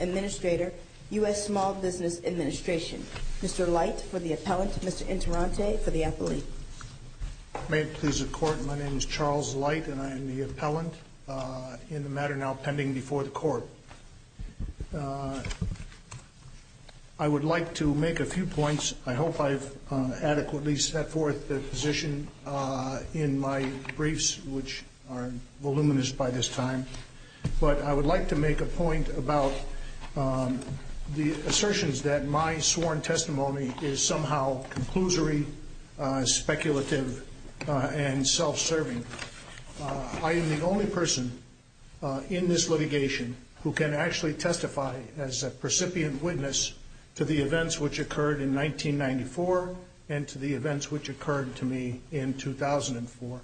Administrator, U.S. Small Business Administration. Mr. Light, for the appellant. Mr. Interante, for the appellee. May it please the Court, my name is Charles Light, and I am the appellant in the matter now pending before the Court. I would like to make a few points. I hope I've adequately positioned in my briefs, which are voluminous by this time, but I would like to make a point about the assertions that my sworn testimony is somehow conclusory, speculative, and self-serving. I am the only person in this litigation who can actually testify as a precipient witness to the events which occurred in 1994 and to the events which occurred to me in 2004.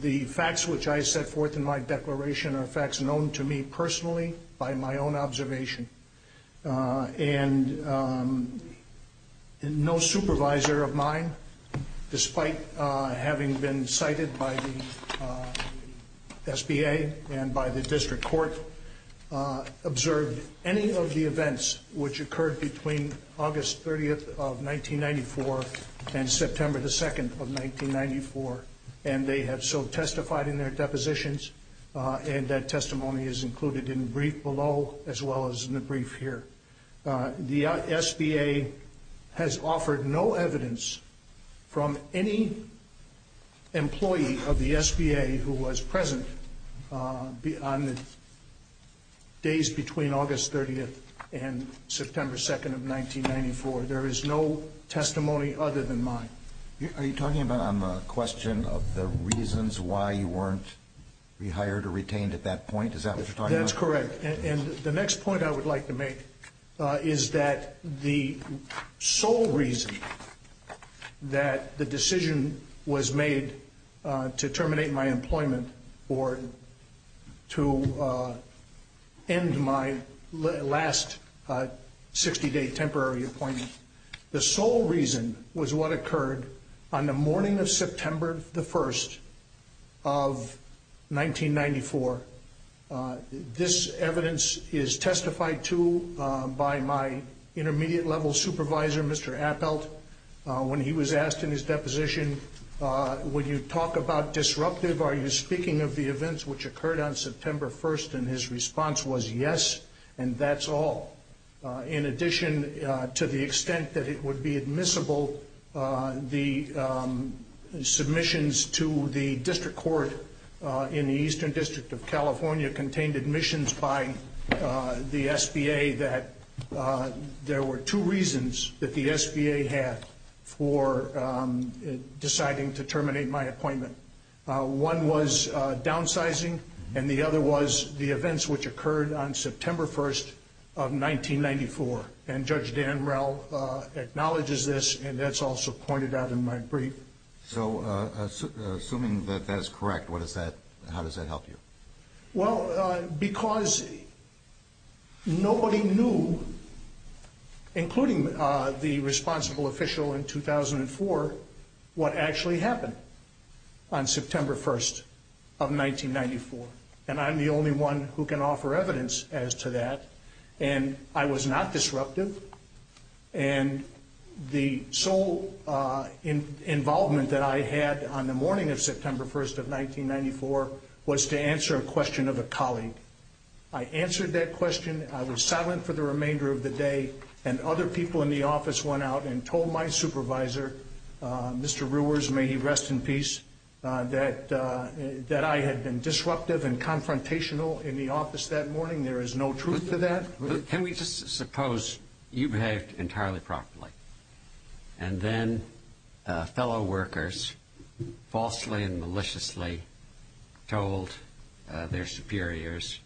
The facts which I set forth in my declaration are facts known to me personally by my own observation, and no supervisor of mine, despite having been cited by the SBA and by the District Court, observed any of the events which occurred between August 30th of 1994 and September 2nd of 1994, and they have so testified in their depositions, and that testimony is included in the brief below as well as in the brief here. The SBA has offered no evidence from any employee of the SBA who was present on the days between August 30th and September 2nd of 1994. There is no testimony other than mine. Are you talking about on the question of the reasons why you weren't rehired or retained at that point? Is that what you're talking about? That's correct, and the next point I would like to make is that the sole reason that the decision was made to terminate my employment or to end my last 60-day temporary appointment, the sole reason was what occurred on the morning of September 1st of 1994. This evidence is testified to by my intermediate-level supervisor, Mr. Appelt, when he was asked in his deposition, would you talk about disruptive? Are you speaking of the events which occurred on September 1st, and his response was yes, and that's all. In addition to the extent that it would be admissible, the submissions to the district court in the Eastern District of California contained admissions by the SBA that there were two reasons that the SBA had for deciding to terminate my appointment. One was downsizing, and the other was the events which occurred on September 1st of 1994, and Judge Dan Rell acknowledges this, and that's also pointed out in my brief. So, assuming that that is correct, how does that help you? Well, because nobody knew, including the responsible official in 2004, what actually happened on September 1st of 1994, and I'm the only one who can offer evidence as to that, and I was not disruptive, and the sole involvement that I had on the morning of September 1st of 1994 was to answer a question of a colleague. I answered that question, I was silent for the remainder of the day, and other people in the office went out and told my supervisor, Mr. Rewers, may he rest in peace, that I had been disruptive and confrontational in the office that morning. There is no truth to that. But can we just suppose you behaved entirely properly, and then fellow workers falsely and maliciously told their superiors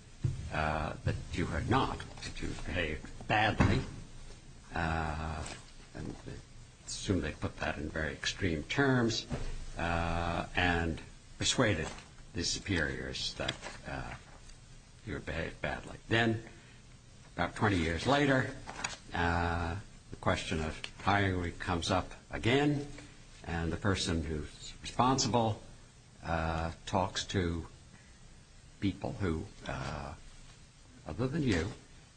that you had not, that you had behaved badly, and I assume they put that in very extreme terms, and persuaded the superiors that you had behaved badly. Then, about 20 years later, the question of hiring comes up again, and the person who is responsible talks to people who, other than you,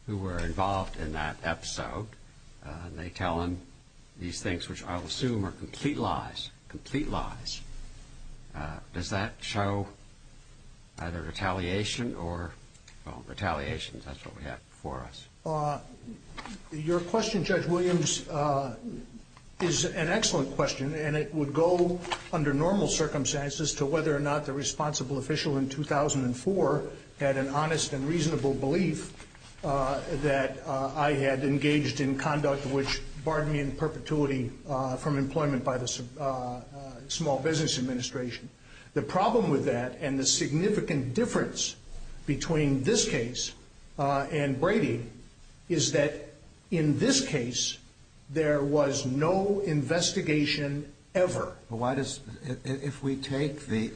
who were involved in that episode, and they tell him these things which I will assume are complete lies, complete lies. Does that show either retaliation or, well, retaliation, that's what we have before us. Your question, Judge Williams, is an excellent question, and it would go under normal circumstances to whether or not the responsible official in 2004 had an honest and reasonable belief that I had engaged in conduct which barred me in perpetuity from employment by the Small Business Administration. The problem with that, and the significant difference between this case and Brady, is that in this case there was no investigation ever. Well, why does, if we take the,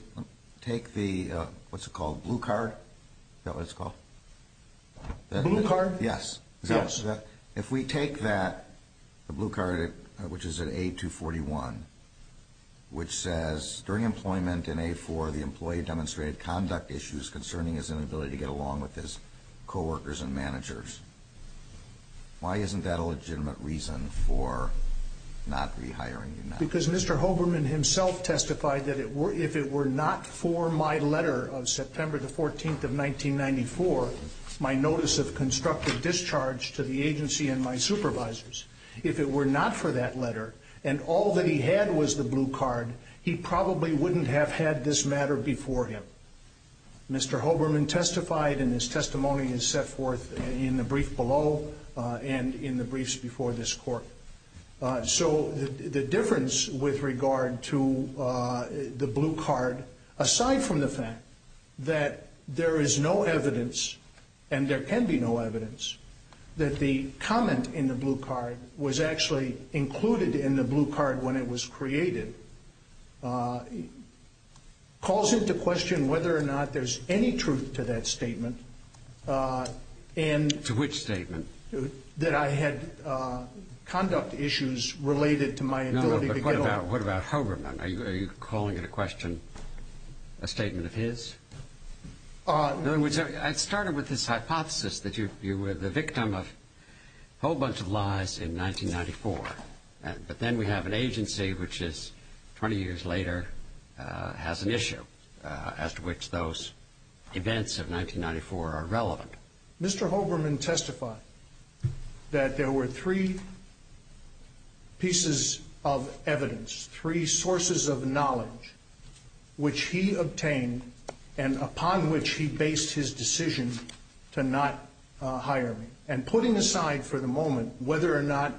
what's it called, blue card? Is that what it's called? Blue card? Yes. If we take that, the blue card, which is at A241, which says, during employment in A4, the employee demonstrated conduct issues concerning his inability to get along with his co-workers and managers. Why isn't that a legitimate reason for not rehiring you now? Because Mr. Hoberman himself testified that if it were not for my letter of September the 14th of 1994, my notice of constructive discharge to the agency and my supervisors, if it were not for that letter, and all that he had was the blue card, he probably wouldn't have had this matter before him. Mr. Hoberman testified, and his testimony is set forth in the brief below and in the briefs before this Court. So the difference with regard to the blue card, aside from the fact that there is no evidence, and there can be no evidence, that the comment in the blue card was actually included in the blue card when it was created, calls into question whether or not there's any truth to that statement. To which statement? That I had conduct issues related to my ability to get along. No, but what about Hoberman? Are you calling into question a statement of his? In other words, I started with this hypothesis that you were the victim of a whole bunch of lies in 1994, but then we have an agency which is, 20 years later, has an issue as to which those events of 1994 are relevant. Mr. Hoberman testified that there were three pieces of evidence, three sources of knowledge which he obtained and upon which he based his decision to not hire me. And putting aside for the moment whether or not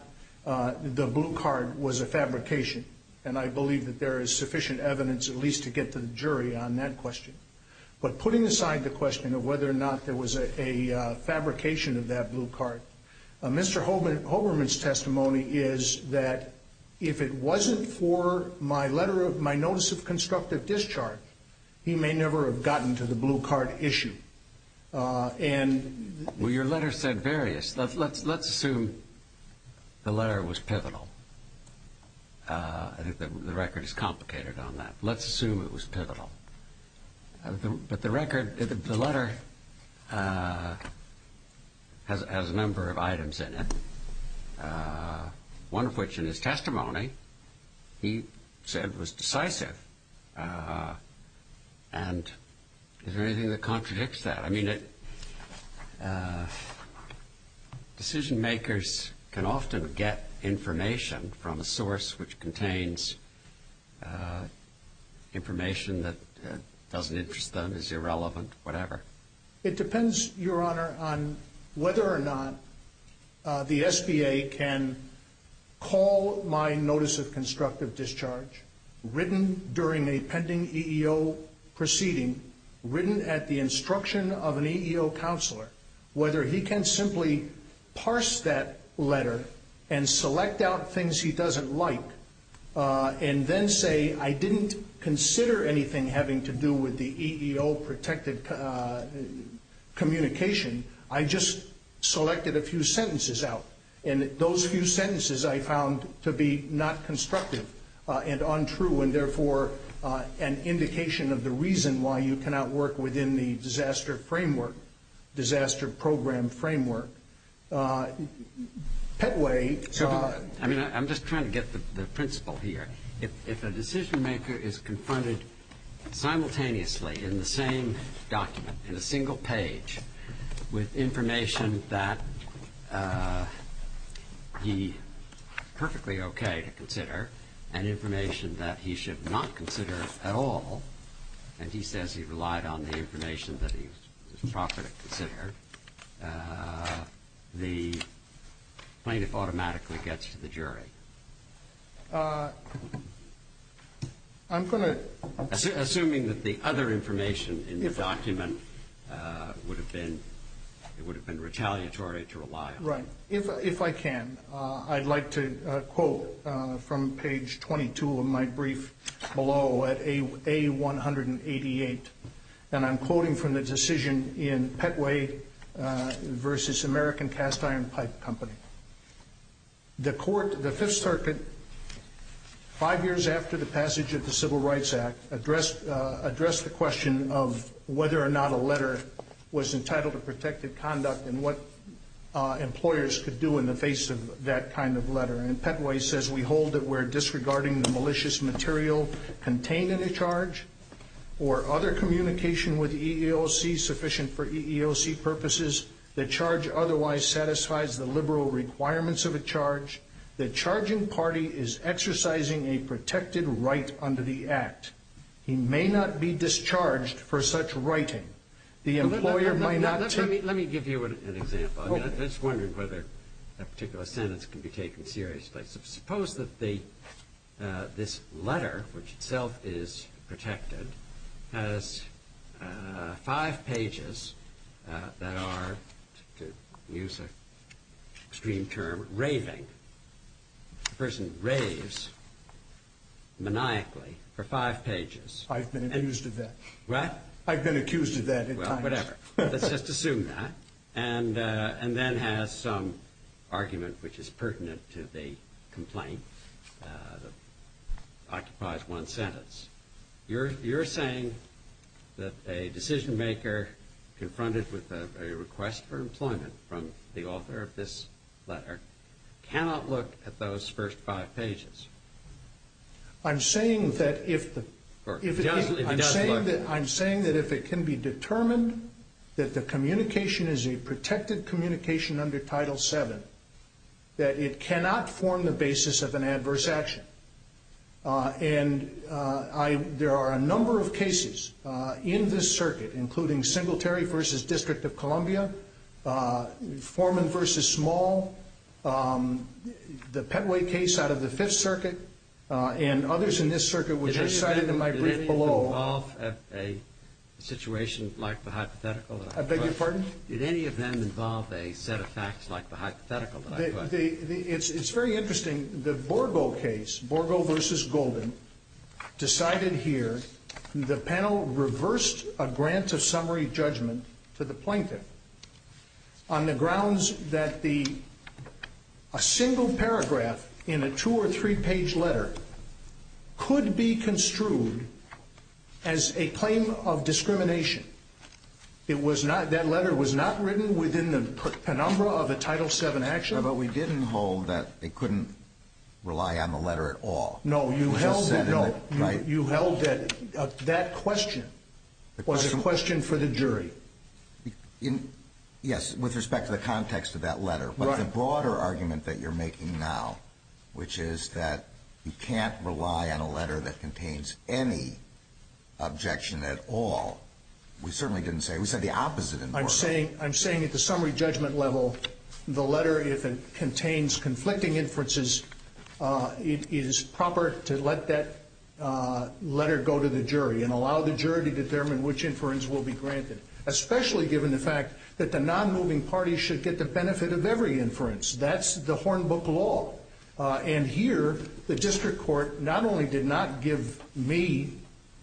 the blue card was a fabrication, and I believe that there is sufficient evidence at least to get to the jury on that question, but putting aside the question of whether or not there was a fabrication of that blue card, Mr. Hoberman's testimony is that if it wasn't for my notice of constructive discharge, he may never have gotten to the blue card issue. Well, your letter said various. Let's assume the letter was pivotal. I think the record is complicated on that. Let's assume it was pivotal. But the record, the letter has a number of items in it, one of which in his testimony he said was decisive. And is there anything that contradicts that? I mean, decision makers can often get information from a source which contains information that doesn't interest them, is irrelevant, whatever. It depends, Your Honor, on whether or not the SBA can call my notice of constructive discharge of an EEO counselor, whether he can simply parse that letter and select out things he doesn't like, and then say, I didn't consider anything having to do with the EEO protected communication, I just selected a few sentences out. And those few sentences I found to be not constructive and untrue, and therefore an indication of the reason why you cannot work within the disaster framework, disaster program framework. I'm just trying to get the principle here. If a decision maker is confronted simultaneously in the same document, in a single page, with information that he would be perfectly okay to consider, and information that he should not consider at all, and he says he relied on the information that he was properly considered, the plaintiff automatically gets to the jury. I'm going to assuming that the other information in the document would have been retaliatory to rely on. Right. If I can, I'd like to quote from page 22 of my brief below at A188. And I'm quoting from the decision in Petway v. American Cast Iron Pipe Company. The court, the Fifth Circuit, five years after the passage of the Civil Rights Act, addressed the question of whether or not a letter was entitled to protective conduct and what employers could do in the face of that kind of letter. And Petway says, we hold that we're disregarding the malicious material contained in a charge or other communication with EEOC sufficient for EEOC purposes. The charge otherwise satisfies the liberal requirements of a charge. The charging party is exercising a protected right under the act. He may not be discharged for such writing. Let me give you an example. I'm just wondering whether that particular sentence can be taken seriously. Suppose that this letter, which itself is protected, has five pages that are, to use an extreme term, raving. The person raves maniacally for five pages. I've been accused of that. What? I've been accused of that at times. Well, whatever. Let's just assume that. And then has some argument which is pertinent to the complaint that occupies one sentence. You're saying that a decision maker confronted with a request for employment from the author of this letter cannot look at those first five pages. I'm saying that if the I'm saying that if it can be determined that the communication is a protected communication under Title VII, that it cannot form the basis of an adverse action. And there are a number of cases in this circuit, including Singletary v. District of Columbia, Foreman v. Small, the Petway case out of the Fifth Circuit, and others in this circuit which are cited in my brief below. Did any of them involve a situation like the hypothetical that I put? I beg your pardon? Did any of them involve a set of facts like the hypothetical that I put? It's very interesting. The Borgo case, Borgo v. Golden, decided here, the panel reversed a grant of summary judgment to the plaintiff on the grounds that a single paragraph in a two- or three-page letter could be construed as a claim of discrimination. That letter was not written within the penumbra of a Title VII action. But we didn't hold that they couldn't rely on the letter at all. No, you held that that question was a question for the jury. Yes, with respect to the context of that letter. Right. But the broader argument that you're making now, which is that you can't rely on a letter that contains any objection at all, we certainly didn't say it. We said the opposite in Borgo. I'm saying at the summary judgment level, the letter, if it contains conflicting inferences, it is proper to let that letter go to the jury and allow the jury to determine which inference will be granted, especially given the fact that the non-moving parties should get the benefit of every inference. That's the Hornbook law. And here, the district court not only did not give me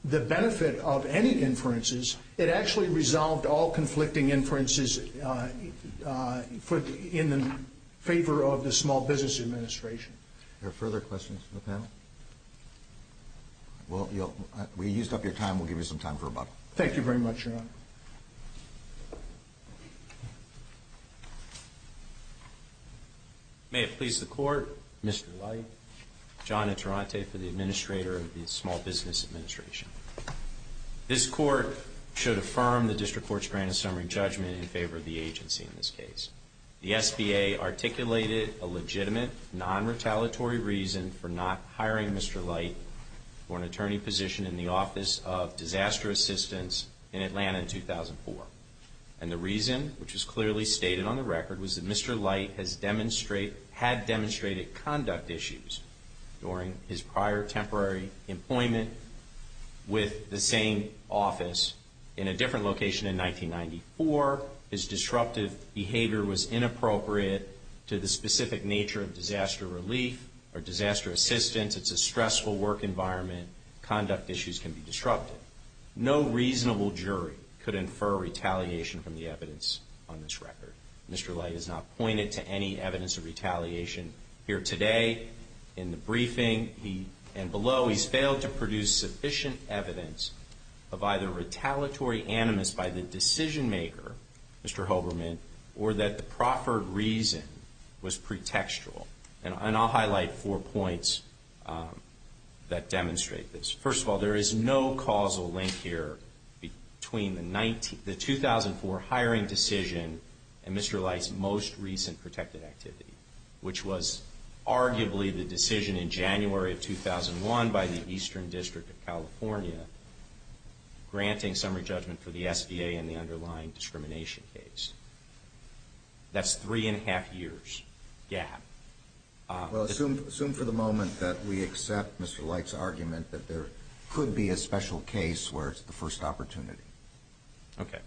the benefit of any inferences, it actually resolved all conflicting inferences in favor of the Small Business Administration. Are there further questions from the panel? Well, we used up your time. We'll give you some time for rebuttal. Thank you very much, Your Honor. May it please the Court, Mr. Light, John Interante for the Administrator of the Small Business Administration. This Court should affirm the district court's granted summary judgment in favor of the agency in this case. The SBA articulated a legitimate, non-retaliatory reason for not hiring Mr. Light for an attorney position in the Office of Disaster Assistance in Atlanta in 2004. And the reason, which is clearly stated on the record, was that Mr. Light had demonstrated conduct issues during his prior temporary employment with the same office in a different location in 1994. Or his disruptive behavior was inappropriate to the specific nature of disaster relief or disaster assistance. It's a stressful work environment. Conduct issues can be disruptive. No reasonable jury could infer retaliation from the evidence on this record. Mr. Light has not pointed to any evidence of retaliation. Here today, in the briefing and below, he's failed to produce sufficient evidence of either retaliatory animus by the decision maker, Mr. Holberman, or that the proffered reason was pretextual. And I'll highlight four points that demonstrate this. First of all, there is no causal link here between the 2004 hiring decision and Mr. Light's most recent protected activity, which was arguably the decision in January of 2001 by the Eastern District of California granting summary judgment for the SBA in the underlying discrimination case. That's three and a half years gap. Well, assume for the moment that we accept Mr. Light's argument that there could be a special case where it's the first opportunity. Okay.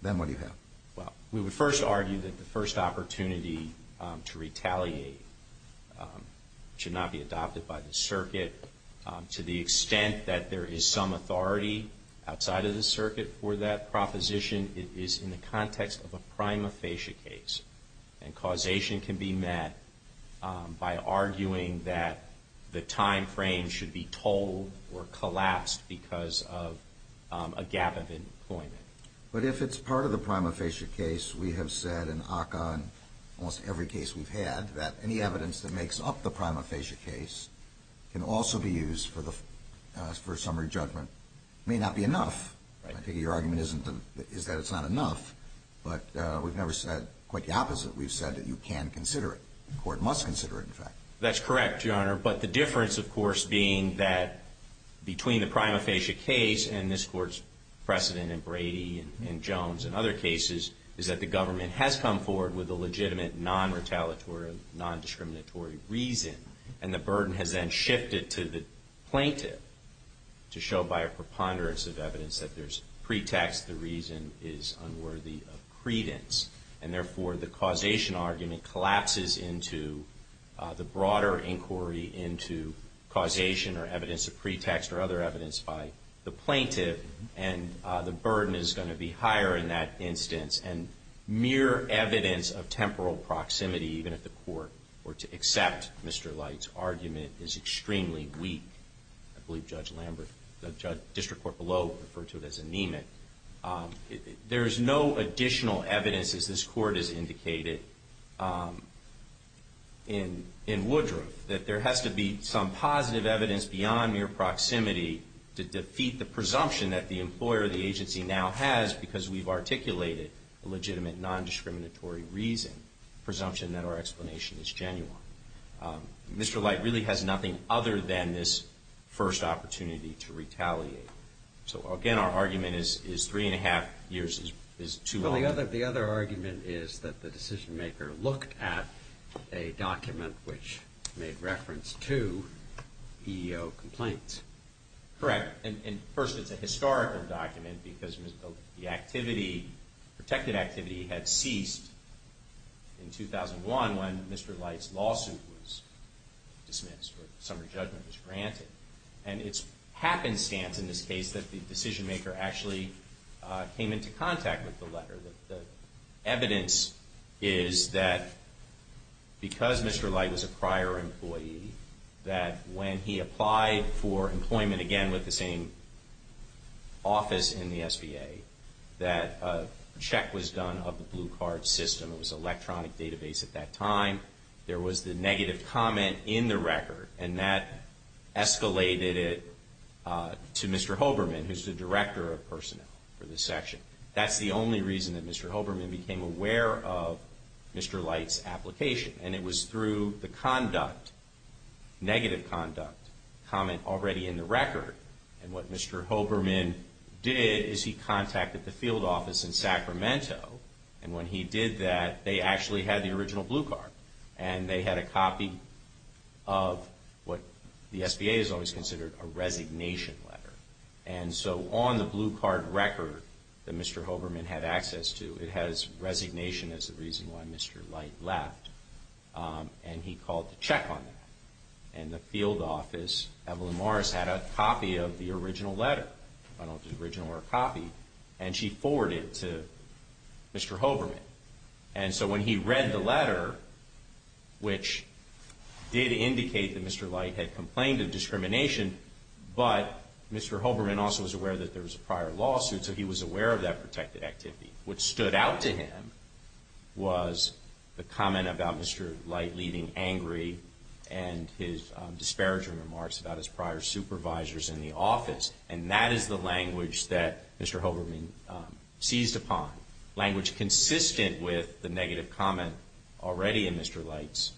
Then what do you have? Well, we would first argue that the first opportunity to retaliate should not be adopted by the circuit. To the extent that there is some authority outside of the circuit for that proposition, it is in the context of a prima facie case. And causation can be met by arguing that the time frame should be told or collapsed because of a gap of employment. But if it's part of the prima facie case, we have said in ACCA and almost every case we've had, that any evidence that makes up the prima facie case can also be used for summary judgment. It may not be enough. I figure your argument is that it's not enough. But we've never said quite the opposite. We've said that you can consider it. The Court must consider it, in fact. That's correct, Your Honor. But the difference, of course, being that between the prima facie case and this Court's precedent in Brady and Jones and other cases, is that the government has come forward with a legitimate non-retaliatory, non-discriminatory reason. And the burden has then shifted to the plaintiff to show by a preponderance of evidence that there's pretext, the reason is unworthy of credence. And therefore, the causation argument collapses into the broader inquiry into causation or evidence of pretext or other evidence by the plaintiff. And the burden is going to be higher in that instance. And mere evidence of temporal proximity, even if the Court were to accept Mr. Light's argument, is extremely weak. I believe Judge Lambert, the district court below, referred to it as anemic. There is no additional evidence, as this Court has indicated in Woodruff, that there has to be some positive evidence beyond mere proximity to defeat the presumption that the employer or the agency now has because we've articulated a legitimate non-discriminatory reason, presumption that our explanation is genuine. Mr. Light really has nothing other than this first opportunity to retaliate. So again, our argument is three and a half years is too long. Well, the other argument is that the decision-maker looked at a document which made reference to EEO complaints. Correct. And first, it's a historical document because the activity, protected activity, had ceased in 2001 when Mr. Light's lawsuit was dismissed or the summary judgment was granted. And it's happenstance in this case that the decision-maker actually came into contact with the letter. The evidence is that because Mr. Light was a prior employee, that when he applied for employment again with the same office in the SBA, that a check was done of the blue card system. It was an electronic database at that time. There was the negative comment in the record. And that escalated it to Mr. Hoberman, who's the director of personnel for this section. That's the only reason that Mr. Hoberman became aware of Mr. Light's application. And it was through the conduct, negative conduct, comment already in the record. And what Mr. Hoberman did is he contacted the field office in Sacramento. And when he did that, they actually had the original blue card. And they had a copy of what the SBA has always considered a resignation letter. And so on the blue card record that Mr. Hoberman had access to, it has resignation as the reason why Mr. Light left. And he called to check on that. And the field office, Evelyn Morris, had a copy of the original letter. I don't know if it's original or a copy. And she forwarded it to Mr. Hoberman. And so when he read the letter, which did indicate that Mr. Light had complained of discrimination, but Mr. Hoberman also was aware that there was a prior lawsuit, so he was aware of that protected activity. What stood out to him was the comment about Mr. Light leaving angry and his disparaging remarks about his prior supervisors in the office. And that is the language that Mr. Hoberman seized upon. Language consistent with the negative comment already in Mr. Light's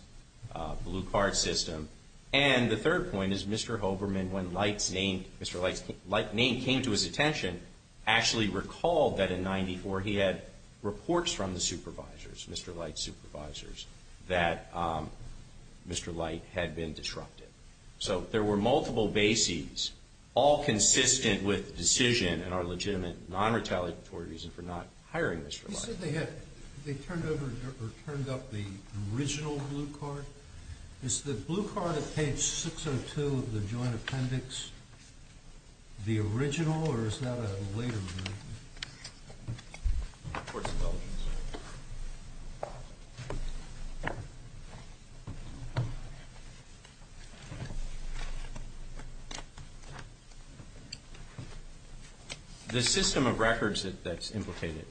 blue card system. And the third point is Mr. Hoberman, when Mr. Light's name came to his attention, actually recalled that in 94 he had reports from the supervisors, Mr. Light's supervisors, that Mr. Light had been disrupted. So there were multiple bases, all consistent with the decision and our legitimate non-retaliatory reason for not hiring Mr. Light. You said they had turned up the original blue card. Is the blue card at page 602 of the joint appendix the original or is that a later version? The system of records that's implicated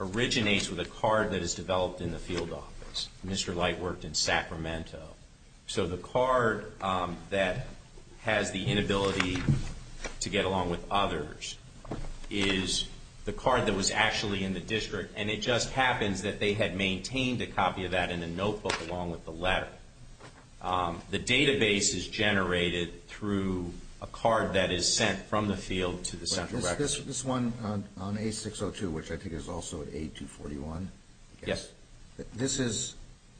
originates with a card that is developed in the field office. Mr. Light worked in Sacramento. So the card that has the inability to get along with others is the card that was actually in the district and it just happens that they had maintained a copy of that in a notebook along with the letter. The database is generated through a card that is sent from the field to the central records. This one on A602, which I think is also A241. Yes. This is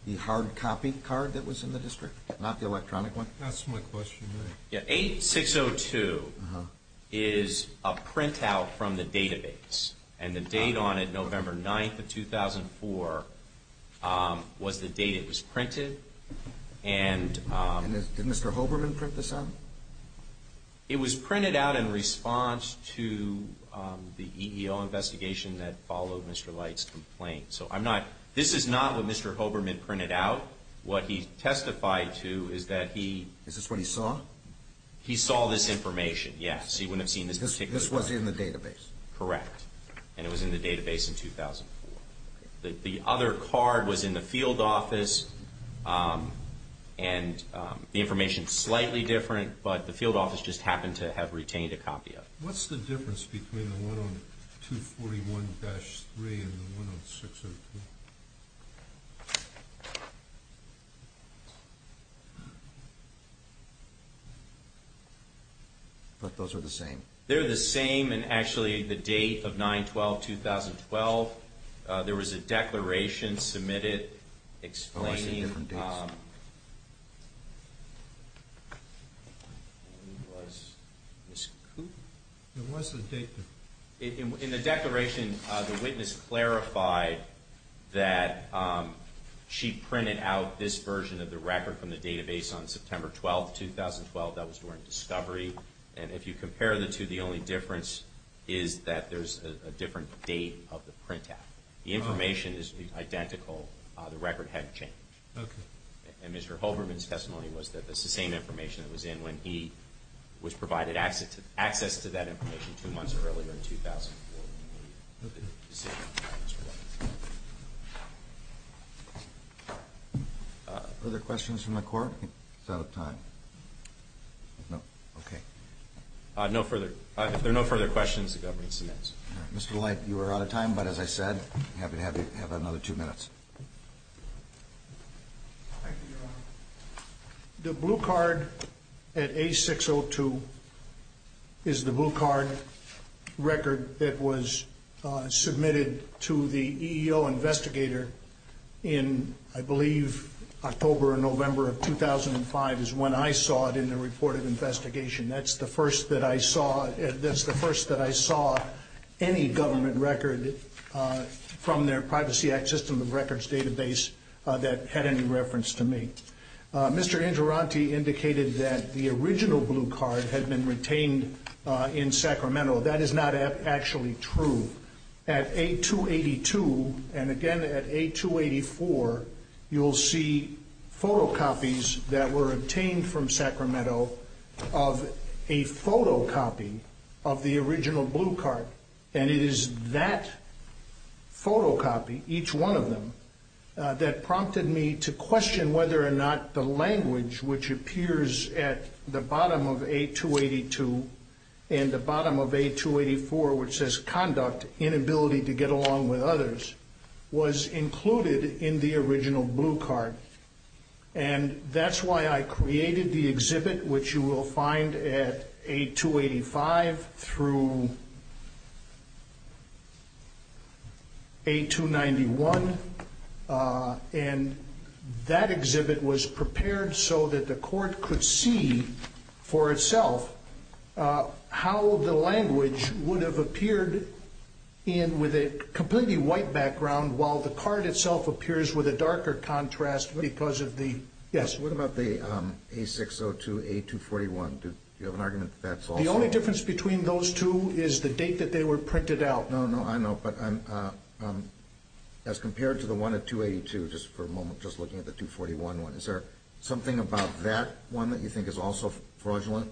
the hard copy card that was in the district, not the electronic one? That's my question. A602 is a printout from the database and the date on it, November 9th of 2004, was the date it was printed. Did Mr. Holberman print this out? It was printed out in response to the EEO investigation that followed Mr. Light's complaint. So I'm not – this is not what Mr. Holberman printed out. What he testified to is that he – Is this what he saw? He saw this information, yes. He wouldn't have seen this particular – This was in the database? Correct. And it was in the database in 2004. The other card was in the field office and the information is slightly different, but the field office just happened to have retained a copy of it. What's the difference between the one on 241-3 and the one on 602? But those are the same. They're the same, and actually the date of 9-12-2012, there was a declaration submitted explaining – Oh, I see different dates. And it was Ms. Cooper? It was the date – In the declaration, the witness clarified that she printed out this version of the record from the database on September 12th, 2012. That was during discovery, and if you compare the two, the only difference is that there's a different date of the printout. The information is identical. The record hadn't changed. Okay. And Mr. Holberman's testimony was that it's the same information it was in when he was provided access to that information two months earlier in 2004. Are there questions from the Court? Is that out of time? No. Okay. If there are no further questions, the government submits. Mr. Leite, you are out of time, but as I said, I'd be happy to have another two minutes. Thank you, Your Honor. The blue card at A602 is the blue card record that was submitted to the EEO investigator in, I believe, October or November of 2005 is when I saw it in the report of investigation. That's the first that I saw – that's the first that I saw any government record from their Privacy Act System of Records database that had any reference to me. Mr. Interanti indicated that the original blue card had been retained in Sacramento. That is not actually true. At A282 and, again, at A284, you'll see photocopies that were obtained from Sacramento of a photocopy of the original blue card. And it is that photocopy, each one of them, that prompted me to question whether or not the language, which appears at the bottom of A282 and the bottom of A284, which says conduct, inability to get along with others, was included in the original blue card. And that's why I created the exhibit, which you will find at A285 through A291. And that exhibit was prepared so that the court could see for itself how the language would have appeared with a completely white background, while the card itself appears with a darker contrast because of the – yes? What about the A602, A241? Do you have an argument that that's also – The only difference between those two is the date that they were printed out. No, no, I know, but I'm – as compared to the one at 282, just for a moment, just looking at the 241 one, is there something about that one that you think is also fraudulent?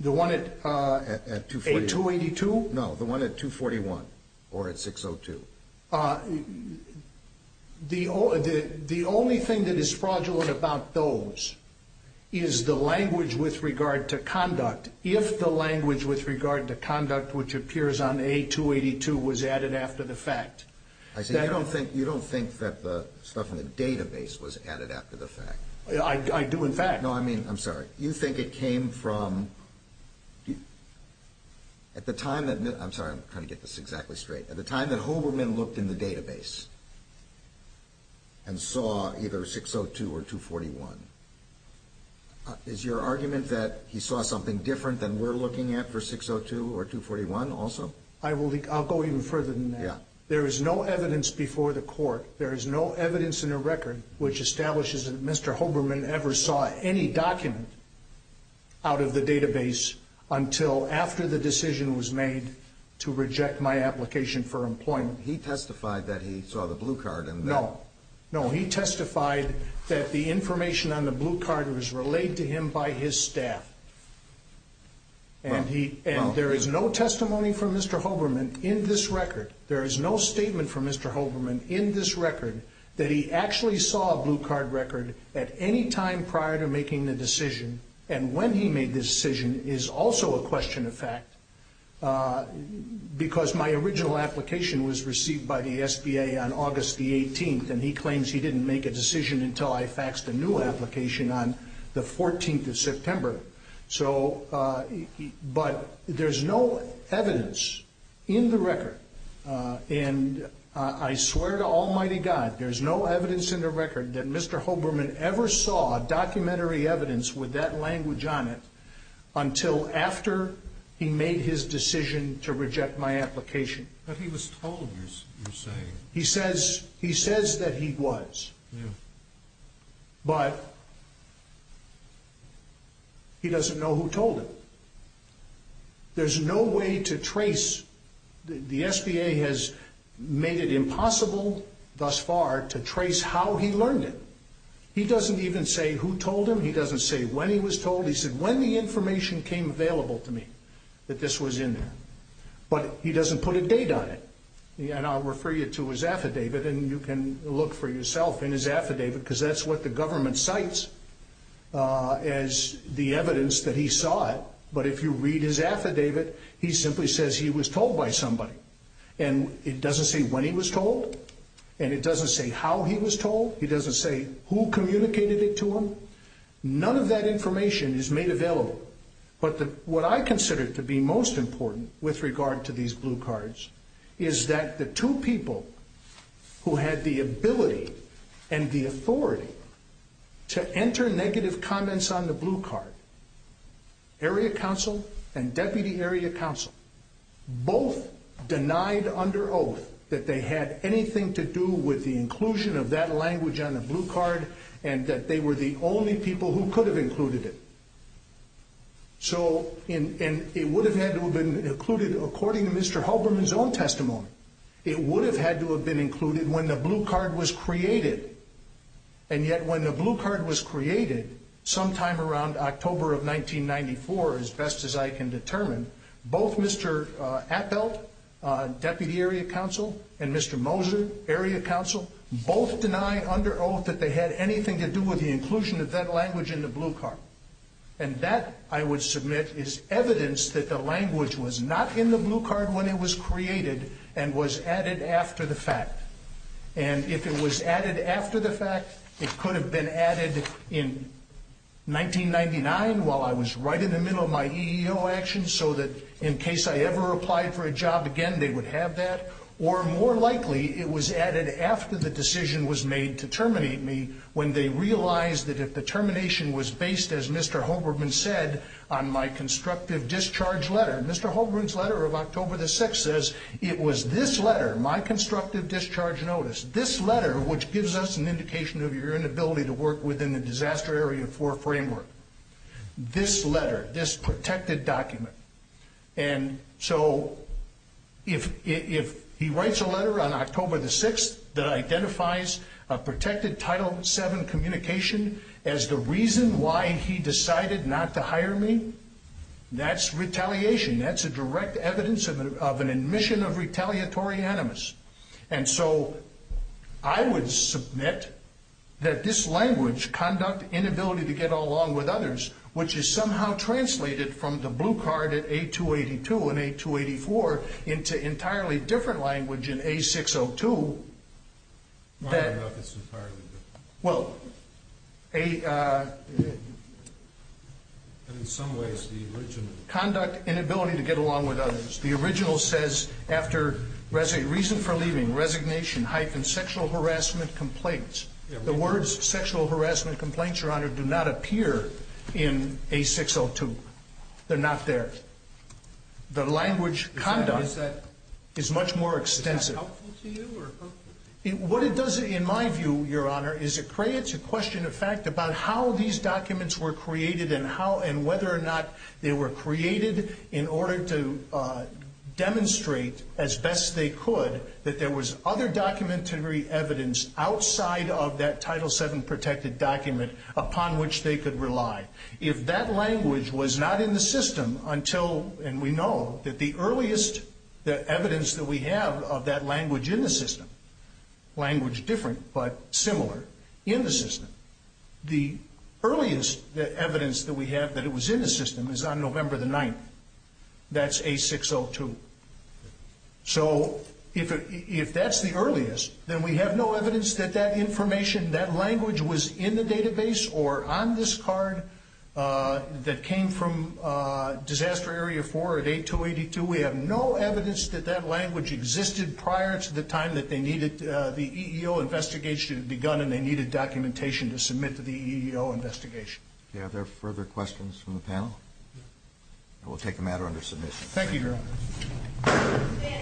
The one at – A282? No, the one at 241 or at 602. The only thing that is fraudulent about those is the language with regard to conduct. If the language with regard to conduct, which appears on A282, was added after the fact – I see. You don't think that the stuff in the database was added after the fact? I do, in fact. No, I mean – I'm sorry. You think it came from – at the time that – I'm sorry. I'm trying to get this exactly straight. At the time that Hoberman looked in the database and saw either 602 or 241, is your argument that he saw something different than we're looking at for 602 or 241 also? I will – I'll go even further than that. Yeah. There is no evidence before the court. There is no evidence in the record which establishes that Mr. Hoberman ever saw any document out of the database until after the decision was made to reject my application for employment. He testified that he saw the blue card and that – No. No, he testified that the information on the blue card was relayed to him by his staff. And he – and there is no testimony from Mr. Hoberman in this record. There is no statement from Mr. Hoberman in this record that he actually saw a blue card record at any time prior to making the decision and when he made this decision is also a question of fact because my original application was received by the SBA on August the 18th, and he claims he didn't make a decision until I faxed a new application on the 14th of September. So – but there's no evidence in the record, and I swear to almighty God, there's no evidence in the record that Mr. Hoberman ever saw documentary evidence with that language on it until after he made his decision to reject my application. But he was told, you're saying. He says – he says that he was. Yeah. But he doesn't know who told him. There's no way to trace – the SBA has made it impossible thus far to trace how he learned it. He doesn't even say who told him. He doesn't say when he was told. He said when the information came available to me that this was in there. But he doesn't put a date on it. And I'll refer you to his affidavit, and you can look for yourself in his affidavit because that's what the government cites as the evidence that he saw it. But if you read his affidavit, he simply says he was told by somebody. And it doesn't say when he was told, and it doesn't say how he was told. It doesn't say who communicated it to him. None of that information is made available. But what I consider to be most important with regard to these blue cards is that the two people who had the ability and the authority to enter negative comments on the blue card, area council and deputy area council, both denied under oath that they had anything to do with the inclusion of that language on the blue card and that they were the only people who could have included it. And it would have had to have been included according to Mr. Halberman's own testimony. It would have had to have been included when the blue card was created. And yet when the blue card was created sometime around October of 1994, as best as I can determine, both Mr. Appelt, deputy area council, and Mr. Moser, area council, both deny under oath that they had anything to do with the inclusion of that language in the blue card. And that, I would submit, is evidence that the language was not in the blue card when it was created and was added after the fact. And if it was added after the fact, it could have been added in 1999 while I was right in the middle of my EEO action so that in case I ever applied for a job again, they would have that. Or more likely, it was added after the decision was made to terminate me when they realized that if the termination was based, as Mr. Halberman said, on my constructive discharge letter, Mr. Halberman's letter of October the 6th says it was this letter, my constructive discharge notice, this letter which gives us an indication of your inability to work within the Disaster Area 4 framework, this letter, this protected document. And so if he writes a letter on October the 6th that identifies a protected Title VII communication as the reason why he decided not to hire me, that's retaliation. That's a direct evidence of an admission of retaliatory animus. And so I would submit that this language, conduct, inability to get along with others, which is somehow translated from the blue card at A-282 and A-284 into entirely different language in A-602 that Well, conduct, inability to get along with others. The original says, after reason for leaving, resignation, hyphen, sexual harassment complaints. The words sexual harassment complaints, Your Honor, do not appear in A-602. They're not there. The language conduct is much more extensive. Is that helpful to you or hurtful to you? What it does in my view, Your Honor, is it creates a question of fact about how these documents were created and whether or not they were created in order to demonstrate as best they could that there was other documentary evidence outside of that Title VII protected document upon which they could rely. If that language was not in the system until, and we know that the earliest evidence that we have of that language in the system, language different but similar in the system, the earliest evidence that we have that it was in the system is on November the 9th. That's A-602. So if that's the earliest, then we have no evidence that that information, that language was in the database or on this card that came from Disaster Area 4 at A-282. We have no evidence that that language existed prior to the time that the EEO investigation had begun and they needed documentation to submit to the EEO investigation. Are there further questions from the panel? We'll take a matter under submission. Thank you, Your Honor.